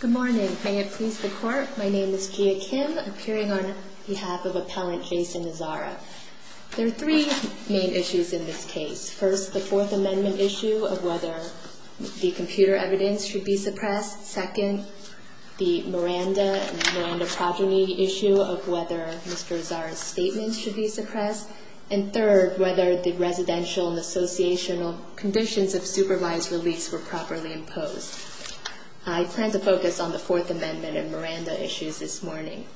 Good morning. May it please the court, my name is Gia Kim, appearing on behalf of appellant Jason Azzara. There are three main issues in this case. First, the Fourth Amendment issue of whether the computer evidence should be suppressed. Second, the Miranda and Miranda progeny issue of whether Mr. Azzara's statement should be suppressed. And third, whether the residential and associational conditions of supervised release were properly imposed. I plan to focus on the Fourth Amendment and Miranda issues this morning.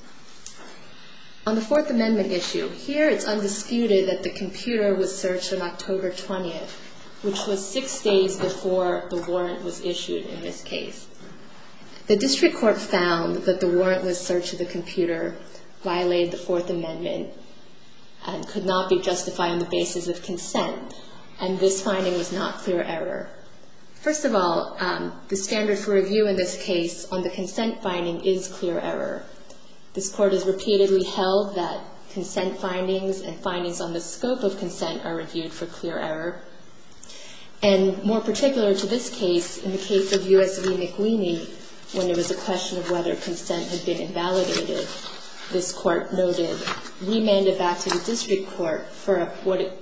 On the Fourth Amendment issue, here it's undisputed that the computer was searched on October 20th, which was six days before the warrant was issued in this case. The district court found that the warrantless search of the computer violated the Fourth Amendment and could not be justified on the basis of consent, and this finding was not clear error. First of all, the standard for review in this case on the consent finding is clear error. This court has repeatedly held that consent findings and findings on the scope of consent are reviewed for clear error. And more particular to this case, in the case of U.S. v. McLeany, when it was a question of whether consent had been invalidated, this court noted, we mand it back to the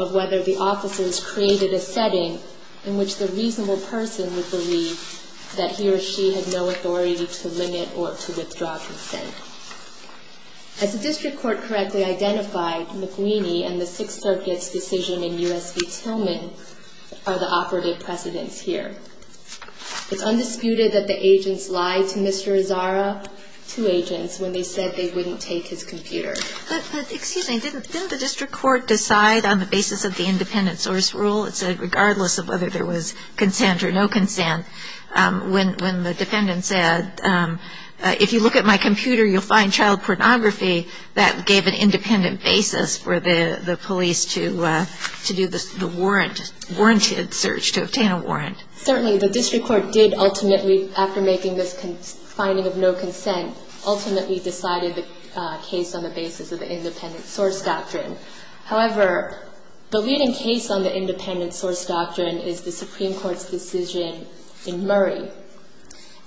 of whether the officers created a setting in which the reasonable person would believe that he or she had no authority to limit or to withdraw consent. As the district court correctly identified, McLeany and the Sixth Circuit's decision in U.S. v. Tillman are the operative precedents here. It's undisputed that the agents lied to Mr. Azzara, two agents, when they said they wouldn't take his computer. But, excuse me, didn't the district court decide on the basis of the independent source rule, it said regardless of whether there was consent or no consent, when the defendant said, if you look at my computer, you'll find child pornography, that gave an independent basis for the police to do the warrant, warranted search to obtain a warrant? Certainly, the district court did ultimately, after making this finding of no basis of the independent source doctrine. However, the leading case on the independent source doctrine is the Supreme Court's decision in Murray.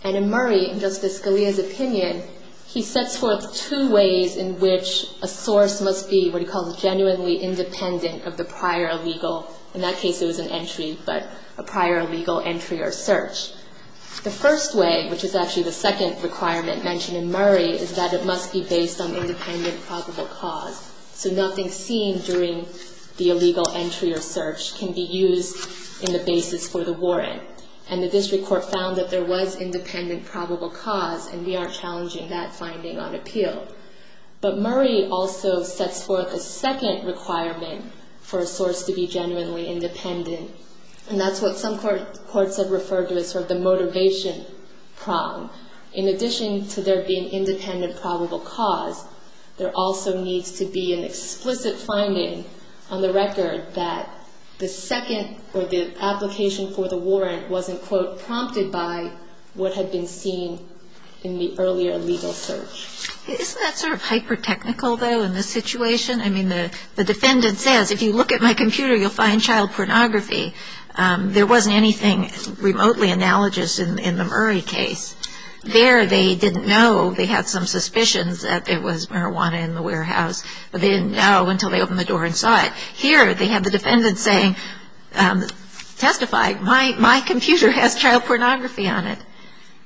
And in Murray, in Justice Scalia's opinion, he sets forth two ways in which a source must be what he calls genuinely independent of the prior legal, in that case it was an entry, but a prior legal entry or search. The first way, which is actually the second requirement mentioned in Murray, is that it must be based on independent probable cause. So nothing seen during the illegal entry or search can be used in the basis for the warrant. And the district court found that there was independent probable cause, and we are challenging that finding on appeal. But Murray also sets forth a second requirement for a source to be genuinely independent. And that's what some courts have referred to as sort of the motivation prong. In addition to there being independent probable cause, there also needs to be an explicit finding on the record that the second or the application for the warrant wasn't, quote, prompted by what had been seen in the earlier legal search. Isn't that sort of hyper-technical, though, in this situation? I mean, the defendant says, if you look at my computer, you'll find child pornography. There wasn't anything remotely analogous in the Murray case. There, they didn't know, they had some suspicions that it was marijuana in the warehouse, but they didn't know until they opened the door and saw it. Here, they have the defendant saying, testify, my computer has child pornography on it.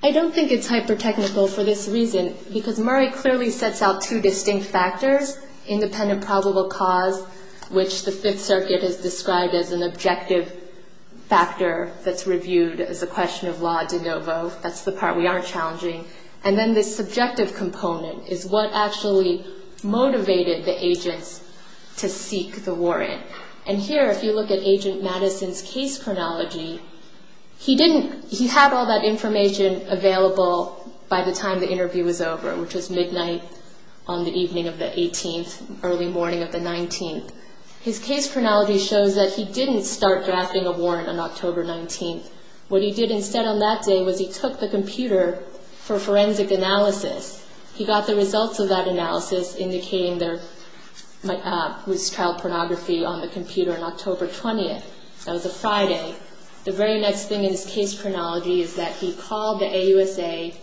I don't think it's hyper-technical for this reason, because Murray clearly sets out two distinct factors, independent probable cause, which the Fifth Circuit has described as an objective factor that's reviewed as a question of la de novo. That's the part we are challenging. And then this subjective component is what actually motivated the agents to seek the warrant. And here, if you look at Agent Madison's case chronology, he didn't, he had all that information available by the time the interview was over, which was midnight on the evening of the 18th, early morning of the 19th. His case chronology shows that he didn't start drafting a warrant on October 19th. What he did instead on that day was he took the computer for forensic analysis. He got the results of that analysis indicating there was child pornography on the computer on October 20th. That was a Friday. The very next thing in his case chronology is that he called the AUSA,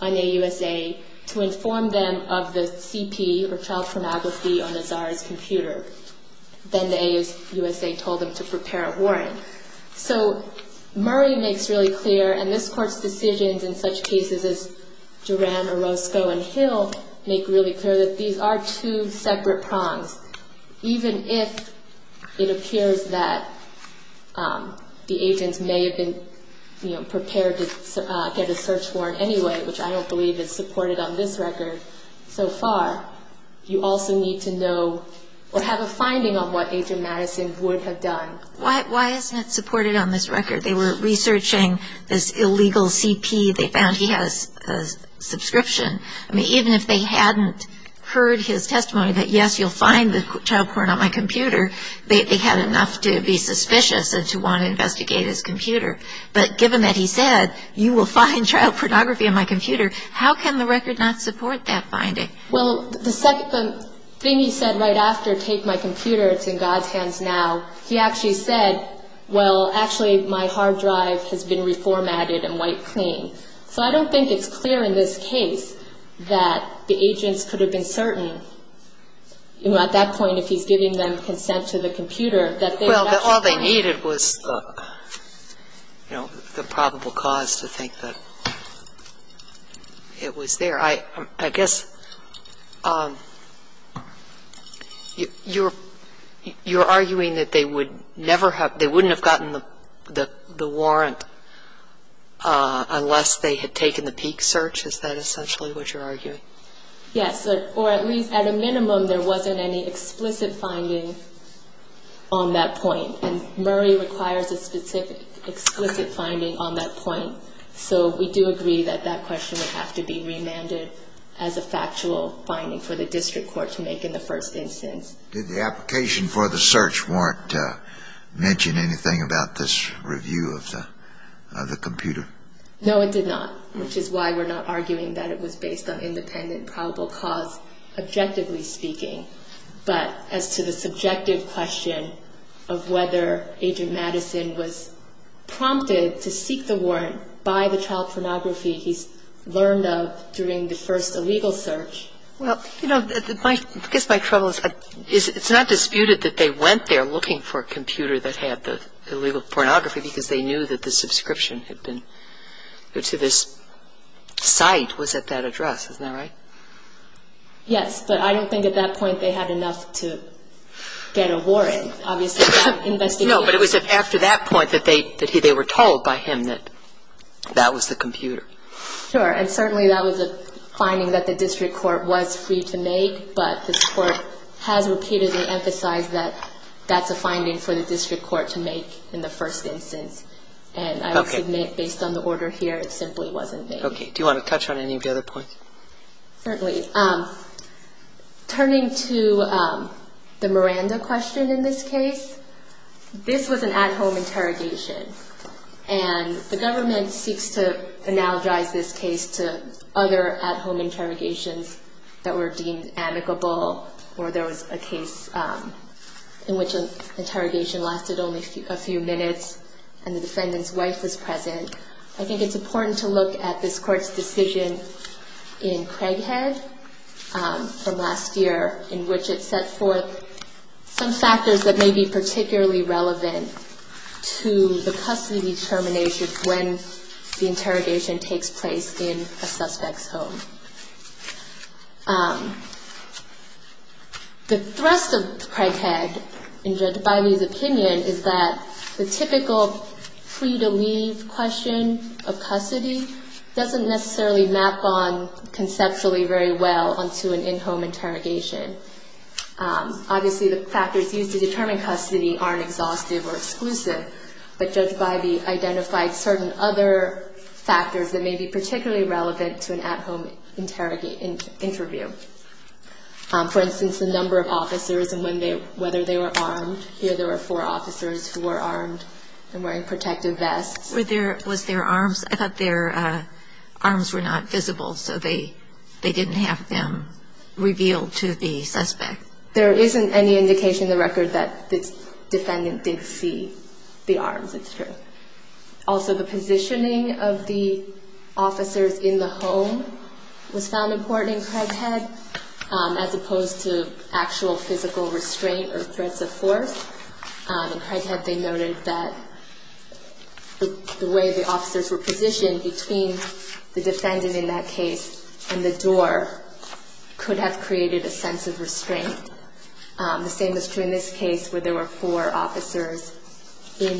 an AUSA, to inform them of the CP, or child pornography, on the czar's computer. Then the AUSA told them to prepare a warrant. So Murray makes really clear, and this court's decisions in such cases as Duran, Orozco, and Hill make really clear that these are two separate prongs. Even if it appears that the agents may have been prepared to get a search warrant anyway, which I don't believe is supported on this record so far, you also need to know or have a finding on what Agent Madison would have done. Why isn't it supported on this record? They were researching this illegal CP. They found he has a subscription. I mean, even if they hadn't heard his testimony that, yes, you'll find the child porn on my computer, they had enough to be suspicious and to want to investigate his computer. But given that he said, you will find child pornography on my computer, how can the record not support that finding? Well, the thing he said right after, take my computer, it's in God's hands now, he actually said, well, actually, my hard drive has been reformatted and wiped clean. So I don't think it's clear in this case that the agents could have been certain, you know, at that point if he's giving them consent to the computer, that they had actually found it. Well, all they needed was, you know, the probable cause to think that it was there. I guess you're arguing that they would never have, they wouldn't have gotten the warrant unless they had taken the peak search? Is that essentially what you're arguing? Yes. Or at least at a minimum, there wasn't any explicit finding on that point. And Murray requires a specific explicit finding on that point. So we do agree that that question would have to be remanded as a factual finding for the district court to make in the first instance. Did the application for the search warrant mention anything about this review of the computer? No, it did not, which is why we're not arguing that it was based on independent probable cause, objectively speaking. But as to the subjective question of whether Agent Madison was prompted to seek the warrant by the computer, that's a different question. So you're saying that he was prompted to seek the warrant by the computer to tell pornography he's learned of during the first illegal search? Well, you know, I guess my trouble is, it's not disputed that they went there looking for a computer that had the illegal pornography because they knew that the subscription had been, to this site, was at that address. Isn't that right? Yes. But I don't think at that point they had enough to get a warrant. I mean, obviously, that investigation No, but it was after that point that they were told by him that that was the computer. Sure. And certainly that was a finding that the district court was free to make, but this Court has repeatedly emphasized that that's a finding for the district court to make in the first instance. And I will submit, based on the order here, it simply wasn't made. Okay. Do you want to touch on any of the other points? Certainly. Turning to the Miranda question in this case, this was an at-home interrogation. And the government seeks to analogize this case to other at-home interrogations that were deemed amicable or there was a case in which an interrogation lasted only a few minutes and the defendant's wife was present. I think it's important to look at this Court's decision in Craighead from last year, in which it set forth some factors that may be particularly relevant to the custody determination when the interrogation takes place in a suspect's home. The thrust of Craighead, in Judge Bailey's opinion, is that the typical free-to-leave question of custody doesn't necessarily map on conceptually very well onto an in-home interrogation. Obviously the factors used to determine custody aren't exhaustive or exclusive, but Judge Bailey identified certain other factors that may be particularly relevant to an at-home interview. For instance, the number of officers and whether they were armed. Here there were four officers who were armed and wearing protective vests. Were there, was there arms? I thought their arms were not visible, so they didn't have them revealed to the suspect. There isn't any indication in the record that the defendant did see the arms, it's true. Also the positioning of the officers in the home was found important in Craighead, as opposed to actual physical restraint or threats of force. In Craighead they noted that the way the officers were positioned between the defendant in that case and the door could have created a sense of restraint. The same is true in this case where there were four officers in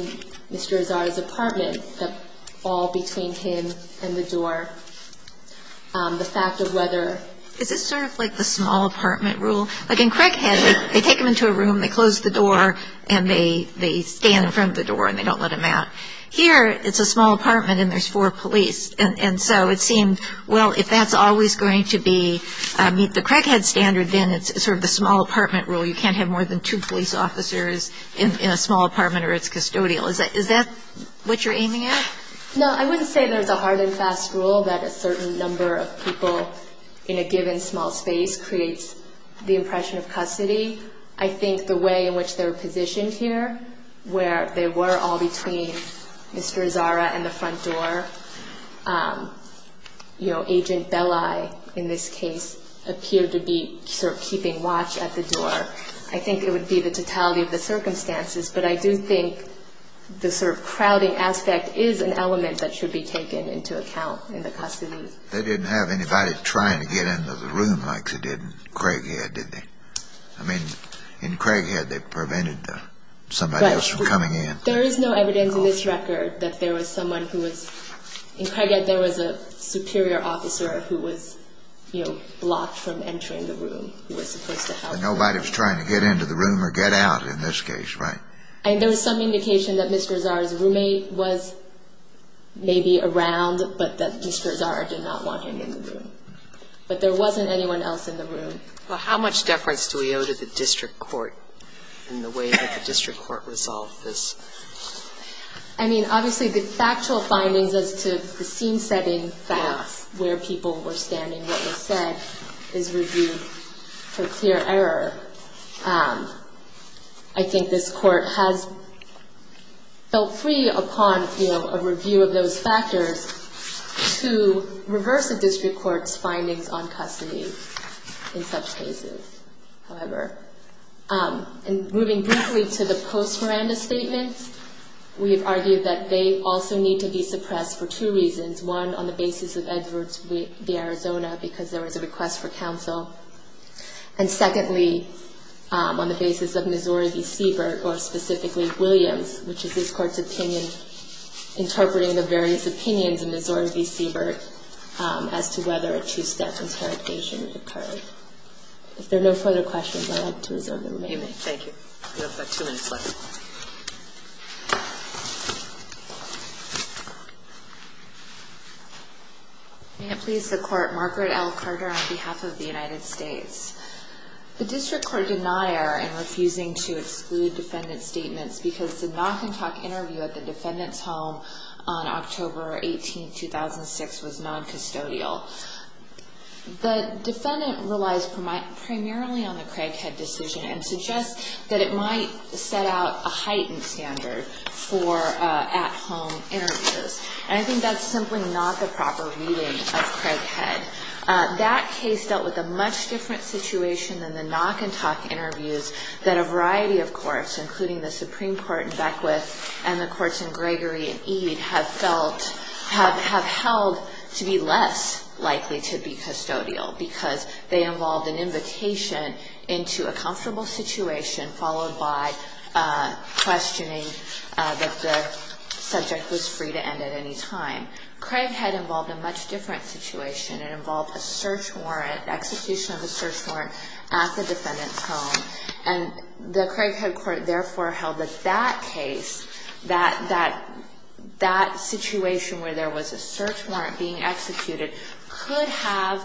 Mr. Azar's apartment, all between him and the door. The fact of whether – Is this sort of like the small apartment rule? Like in Craighead, they take him to a room, they close the door, and they stand in front of the door and they don't let him out. Here it's a small apartment and there's four police. And so it seemed, well, if that's always going to be – meet the Craighead standard, then it's sort of the small apartment rule. You can't have more than two police officers in a small apartment or it's custodial. Is that what you're aiming at? No, I wouldn't say there's a hard and fast rule that a certain number of people in a given small space creates the impression of custody. I think the way in which they were positioned here, where they were all between Mr. Azar and the front door, you know, Agent Belli in this case appeared to be sort of keeping watch at the door. I think it would be the totality of the circumstances, but I do think the sort of crowding aspect is an element that should be taken into account in the custody. They didn't have anybody trying to get into the room like they did in Craighead, did they? I mean, in Craighead, they prevented somebody else from coming in. There is no evidence in this record that there was someone who was – in Craighead, there was a superior officer who was, you know, blocked from entering the room who was supposed to help him. Nobody was trying to get into the room or get out in this case, right? I mean, there was some indication that Mr. Azar's roommate was maybe around, but that Mr. Azar did not want him in the room. But there wasn't anyone else in the room. Well, how much deference do we owe to the district court in the way that the district court resolved this? I mean, obviously, the factual findings as to the scene-setting facts, where people were standing, what was said, is reviewed for clear error. I think this is one of the factors to reverse a district court's findings on custody in such cases, however. And moving briefly to the post-Miranda statements, we have argued that they also need to be suppressed for two reasons. One, on the basis of Edwards v. Arizona, because there was a request for counsel. And secondly, on the basis of Missouri v. Siebert, or specifically Williams, which is his opinions in Missouri v. Siebert, as to whether a two-step interrogation occurred. If there are no further questions, I'd like to reserve the remaining time. Thank you. We have about two minutes left. May it please the Court, Margaret L. Carter on behalf of the United States. The district court denier in refusing to exclude defendant's statements because the knock-and-talk interview at the defendant's home on October 18, 2006, was noncustodial. The defendant relies primarily on the Craighead decision and suggests that it might set out a heightened standard for at-home interviews. And I think that's simply not the proper reading of Craighead. That case dealt with a much different situation than the knock-and-talk interviews that a variety of courts, including the Supreme Court in Beckwith and the courts in Gregory and Ede, have held to be less likely to be custodial. Because they involved an invitation into a comfortable situation, followed by questioning that the subject was free to end at any time. Craighead involved a much different situation. It involved a search warrant at the defendant's home. And the Craighead court therefore held that that case, that situation where there was a search warrant being executed, could have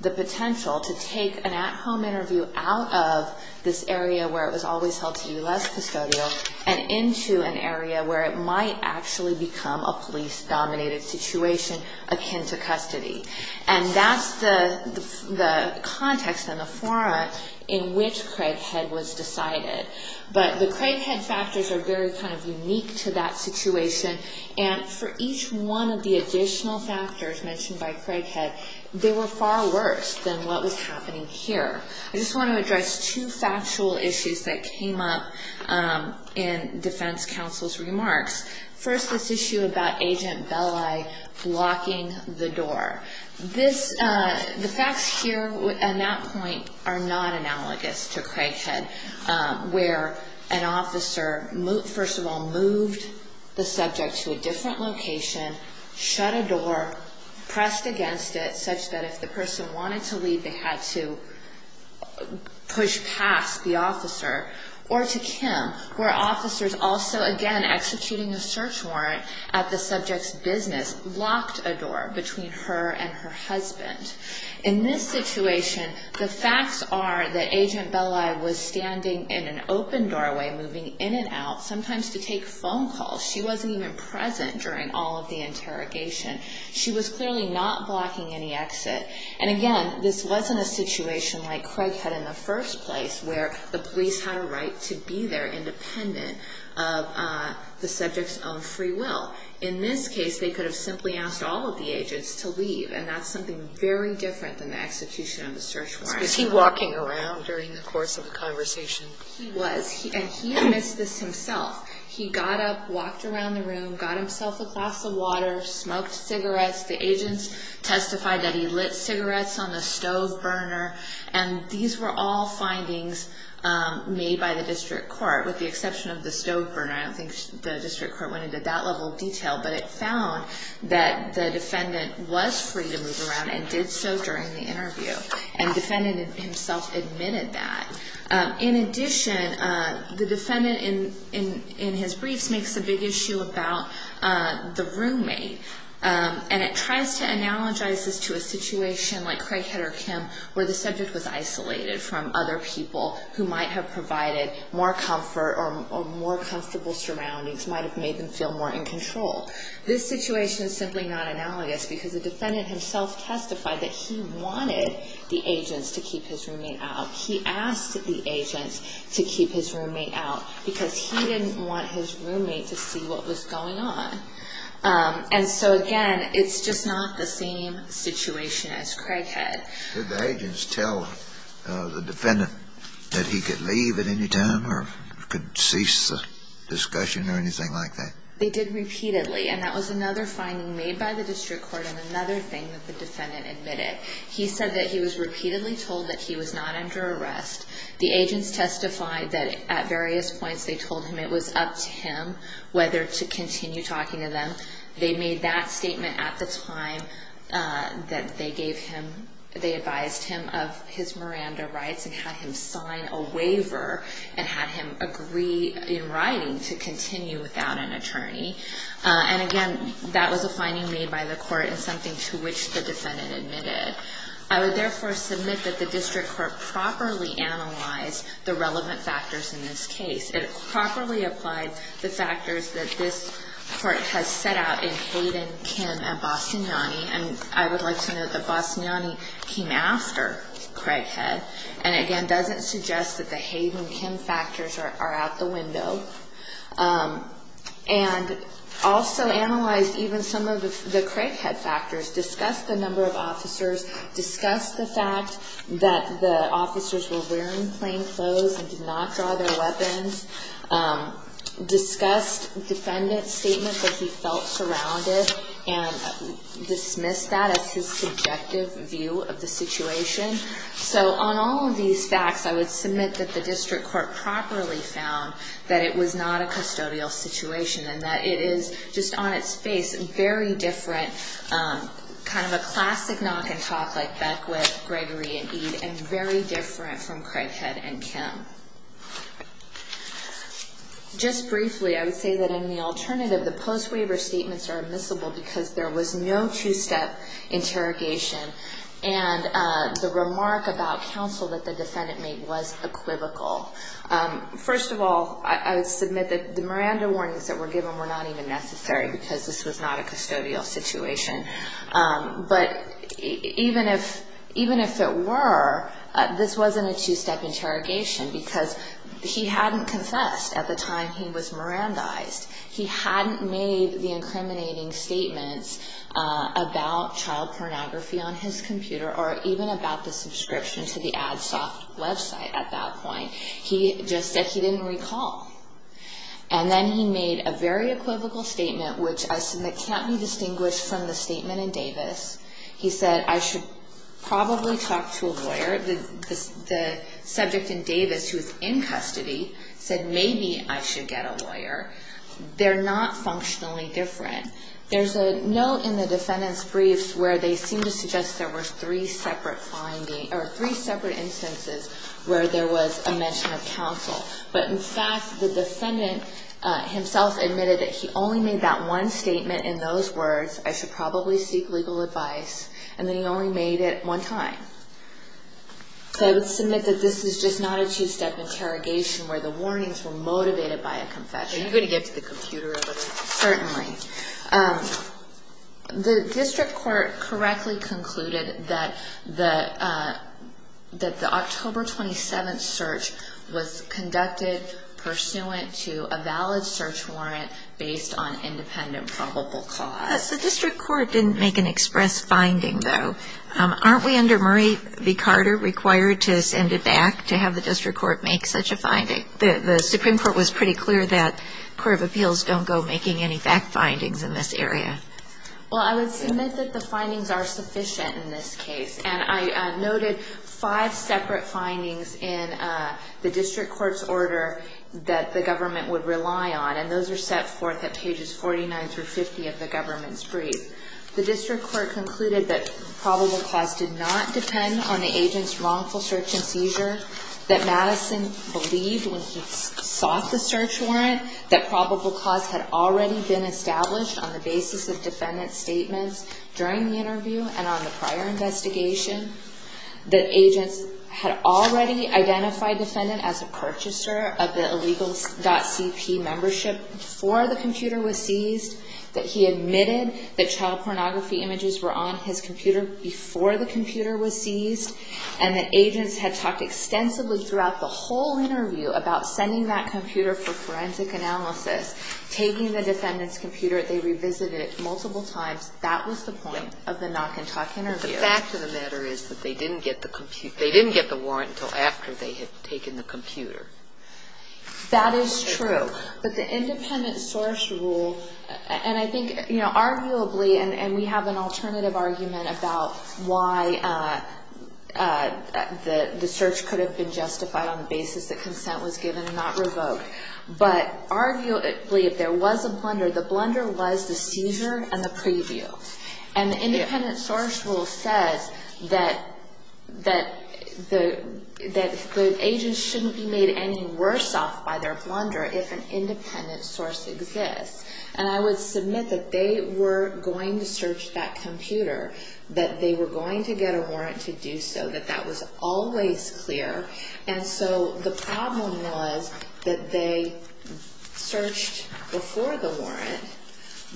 the potential to take an at-home interview out of this area where it was always held to be less custodial, and into an area where it might actually become a police-dominated situation akin to custody. And that's the context and the fora in which Craighead was decided. But the Craighead factors are very kind of unique to that situation. And for each one of the additional factors mentioned by Craighead, they were far worse than what was happening here. I just want to address two factual issues that came up in defense counsel's opinion, blocking the door. The facts here at that point are not analogous to Craighead, where an officer first of all moved the subject to a different location, shut a door, pressed against it such that if the person wanted to leave, they had to push past the officer. Or to Kim, where officers also again, executing a search warrant at the subject's business, locked a door between her and her husband. In this situation, the facts are that Agent Belli was standing in an open doorway, moving in and out, sometimes to take phone calls. She wasn't even present during all of the interrogation. She was clearly not blocking any exit. And again, this wasn't a situation like Craighead in the first place, where the police had a right to be there and independent of the subject's own free will. In this case, they could have simply asked all of the agents to leave. And that's something very different than the execution of the search warrant. Was he walking around during the course of the conversation? He was. And he admissed this himself. He got up, walked around the room, got himself a glass of water, smoked cigarettes. The agents testified that he lit cigarettes on the stove burner. And these were all findings made by the district court, with the exception of the stove burner. I don't think the district court went into that level of detail. But it found that the defendant was free to move around and did so during the interview. And the defendant himself admitted that. In addition, the defendant in his briefs makes a big issue about the roommate. And it tries to analogize this to a situation like Craighead or Kim, where the subject was isolated from other people who might have provided more comfort or more comfortable surroundings, might have made them feel more in control. This situation is simply not analogous because the defendant himself testified that he wanted the agents to keep his roommate out. He asked the agents to keep his roommate out because he didn't want his roommate to see what was going on. And so, again, it's just not the same situation as Craighead. Did the agents tell the defendant that he could leave at any time or could cease the discussion or anything like that? They did repeatedly. And that was another finding made by the district court and another thing that the defendant admitted. He said that he was repeatedly told that he was not under arrest. The agents testified that at various points they told him it was up to him whether to continue talking to them. They made that statement at the time that they gave him, they advised him of his Miranda rights and had him sign a waiver and had him agree in writing to continue without an attorney. And again, that was a finding made by the court and something to which the defendant admitted. I would therefore submit that the district court properly analyzed the relevant factors in this case. It properly applied the factors that this court has set out in Hayden, Kim, and Bosignani. And I would like to note that Bosignani came after Craighead and, again, doesn't suggest that the Hayden, Kim factors are out the window. And also analyzed even some of the Craighead factors, discussed the number of officers, discussed the fact that the officers were wearing plain clothes and did not draw their weapons, discussed the defendant's feeling that he felt surrounded and dismissed that as his subjective view of the situation. So on all of these facts, I would submit that the district court properly found that it was not a custodial situation and that it is just on its face very different, kind of a classic knock and talk like Beckwith, Gregory, and Eade, and very different from Craighead and Kim. Just briefly, I would say that in the alternative, the post waiver statements are admissible because there was no two-step interrogation and the remark about counsel that the defendant made was equivocal. First of all, I would submit that the Miranda warnings that were given were not even necessary because this was not a custodial situation. But even if it were, this wasn't a two-step interrogation because he hadn't confessed at the time he was Mirandized. He hadn't made the incriminating statements about child pornography on his computer or even about the subscription to the AdSoft website at that point. He just said he didn't recall. And then he made a very equivocal statement which I submit can't be true. When you talk to a lawyer, the subject in Davis who is in custody said maybe I should get a lawyer. They're not functionally different. There's a note in the defendant's briefs where they seem to suggest there were three separate instances where there was a mention of counsel. But in fact, the defendant himself admitted that he only made that one statement in those words, I should probably seek legal advice, and then he only made it one time. So I would submit that this is just not a two-step interrogation where the warnings were motivated by a confession. The district court correctly concluded that the October 27th search was conducted pursuant to a valid search warrant based on independent probable cause. The district court didn't make an express finding, though. Aren't we under Murray v. Carter required to send it back to have the district court make such a finding? The Supreme Court was pretty clear that court of appeals don't go making any fact findings in this area. Well, I would submit that the findings are sufficient in this case. And I noted five separate findings in the district court's order that the government would rely on. And those are set forth at pages 49-50 of the government's brief. The district court concluded that probable cause did not depend on the agent's wrongful search and seizure, that Madison believed when he sought the search warrant that probable cause had already been established on the basis of defendant's statements during the interview and on the prior investigation, that agents had already identified the defendant as a purchaser of the illegal .CP membership before the computer was seized, that he admitted that child pornography images were on his computer before the computer was seized, and that agents had talked extensively throughout the whole interview about sending that computer for forensic analysis, taking the defendant's computer. They revisited it multiple times. That was the point of the knock-and-talk interview. But the fact of the matter is that they didn't get the warrant until after they had taken the computer. That is true. But the independent source rule, and I think, you know, arguably, and we have an alternative argument about why the search could have been justified on the basis that consent was given and not revoked, but arguably, if there was a blunder, the blunder was the seizure and the preview. And the independent source rule says that the agents shouldn't be made any worse off by their blunder if an independent source exists. And I would submit that they were going to search that computer, that they were going to get a warrant to do so, that that was always clear. And so the problem was that they searched before the warrant,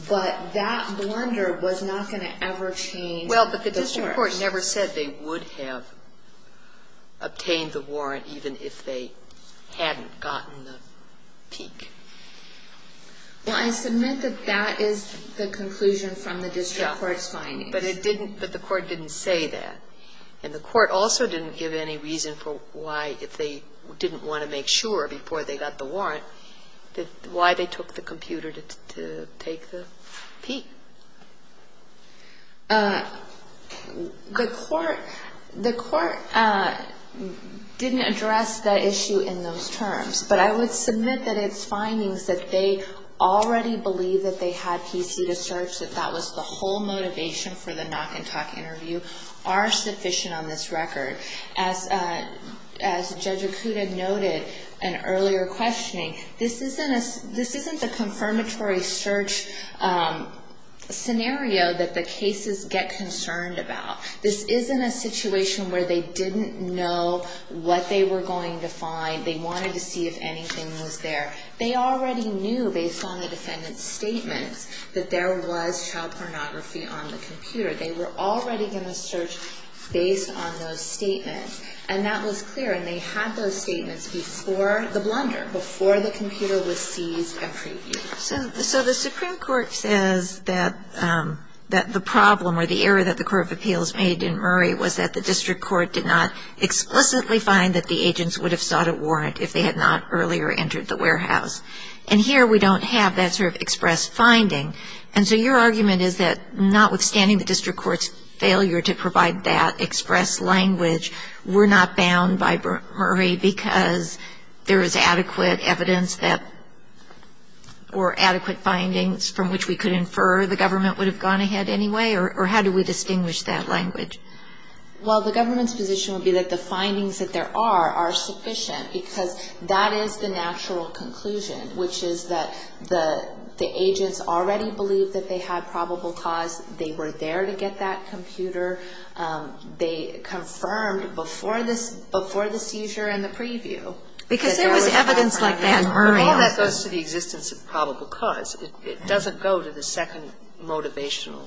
but that blunder was not going to ever change the source. Well, but the district court never said they would have obtained the warrant even if they hadn't gotten the peek. Well, I submit that that is the conclusion from the district court's findings. But the court didn't say that. And the court also didn't give any reason for why, if they didn't want to make sure before they got the warrant, why they took the computer to take the peek. The court didn't address the issue in those terms. But I would submit that its findings, that they already believed that they had PC to search, that that was the whole motivation for the knock-and-talk interview, are sufficient on this record. As Judge Okuda noted in earlier questioning, this isn't the confirmatory search scenario that the cases get concerned about. This isn't a situation where they didn't know what they were going to find. They wanted to see if anything was there. They already knew, based on the defendant's statements, that there was child pornography on the computer. They were already going to search based on those So the Supreme Court says that the problem or the error that the Court of Appeals made in Murray was that the district court did not explicitly find that the agents would have sought a warrant if they had not earlier entered the warehouse. And here we don't have that sort of express finding. And so your argument is that notwithstanding the district court's failure to provide that express language, we're not bound by Murray because there is adequate evidence that or adequate findings from which we could infer the government would have gone ahead anyway? Or how do we distinguish that language? Well, the government's position would be that the findings that there are are sufficient, because that is the natural conclusion, which is that the agents already believed that they had probable cause. They were there to get that computer. They confirmed before this seizure and the preview. Because there was evidence like that in Murray. All that goes to the existence of probable cause. It doesn't go to the second motivational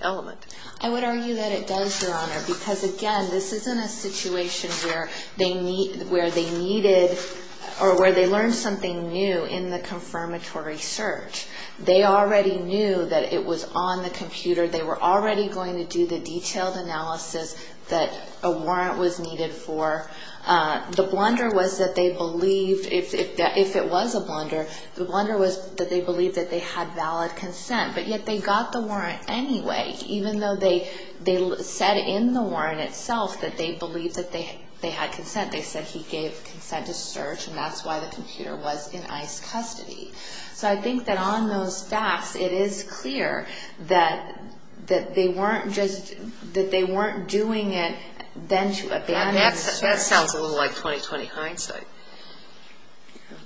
element. I would argue that it does, Your Honor, because again, this isn't a situation where they needed or where they learned something new in the computer. They were already going to do the detailed analysis that a warrant was needed for. The blunder was that they believed, if it was a blunder, the blunder was that they believed that they had valid consent. But yet they got the warrant anyway, even though they said in the warrant itself that they believed that they had consent. They said he gave consent to search, and that's why the computer was in ICE custody. So I think that on those facts, it is clear that they weren't doing it then to abandon search. That sounds a little like 2020 hindsight.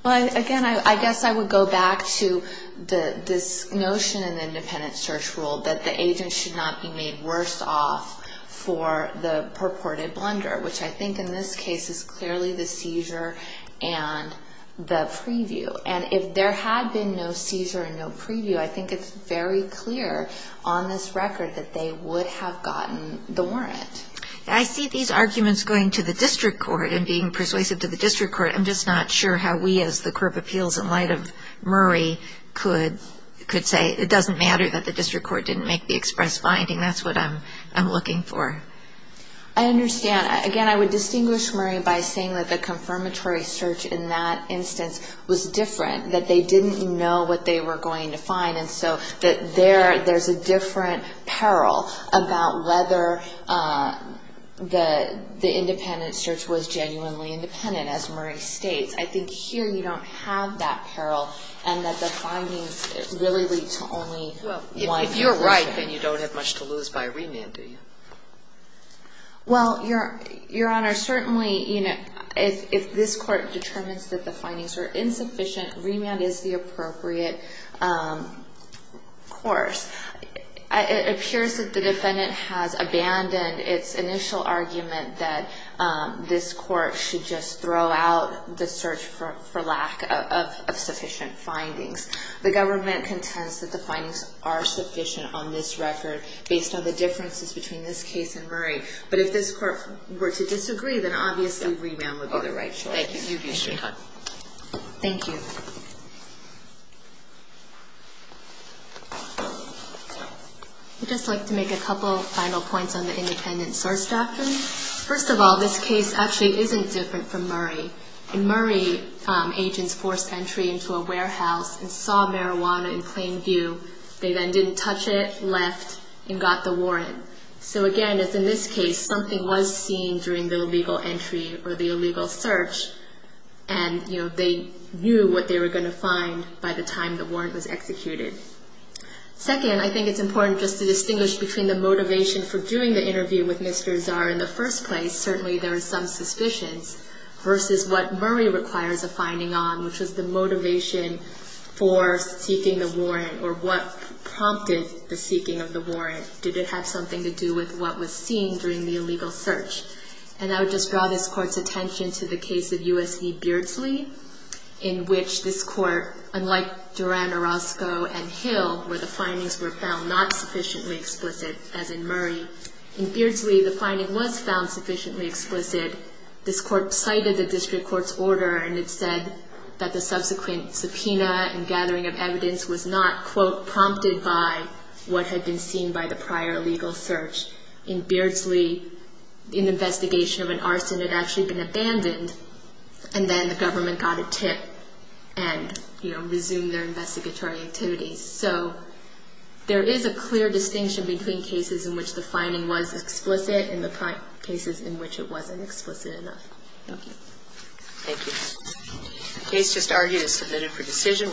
Again, I guess I would go back to this notion in the independent search rule that the agents should not be made worse off for the purported blunder, which I think in this case is clearly the seizure and the preview. If there had been no seizure and no preview, I think it's very clear on this record that they would have gotten the warrant. I see these arguments going to the district court and being persuasive to the district court. I'm just not sure how we as the Court of Appeals in light of Murray could say, it doesn't matter that the district court didn't make the express finding. That's what I'm looking for. I understand. Again, I would distinguish Murray by saying that the confirmatory search in that instance was different, that they didn't know what they were going to find. There's a different peril about whether the independent search was genuinely independent, as Murray states. I think here you don't have that peril and that the findings really lead to only one conclusion. If you're right, then you don't have much to lose by remand, do you? Well, Your Honor, certainly if this court determines that the findings are insufficient, remand is the appropriate course. It appears that the defendant has abandoned its initial argument that this court should just throw out the search for lack of sufficient findings. The government contends that the findings are sufficient on this record based on the differences between this case and Murray. But if this court were to disagree, then obviously remand would be the right choice. Thank you. Thank you. I'd just like to make a couple final points on the independent search doctrine. First of all, this case actually isn't different from Murray. In Murray, agents forced entry into a warehouse and saw marijuana in plain view. They then didn't touch it, left, and got the warrant. So again, as in this case, something was seen during the illegal entry or the illegal search, and they knew what they were going to find by the time the warrant was executed. Second, I think it's important just to distinguish between the motivation for doing the interview with Mr. Czar in the first place, certainly there are some suspicions, versus what Murray requires a finding on, which was the motivation for seeking of the warrant. Did it have something to do with what was seen during the illegal search? And I would just draw this court's attention to the case of U.S. E. Beardsley, in which this court, unlike Duran, Orozco, and Hill, where the findings were found not sufficiently explicit, as in Murray. In Beardsley, the finding was found sufficiently explicit. This court cited the district court's order, and it said that the subsequent findings had not been seen by the prior legal search. In Beardsley, an investigation of an arson had actually been abandoned, and then the government got a tip and resumed their investigatory activities. So there is a clear distinction between cases in which the finding was explicit and the cases in which it wasn't explicit enough. Thank you. The case just argued is submitted for decision.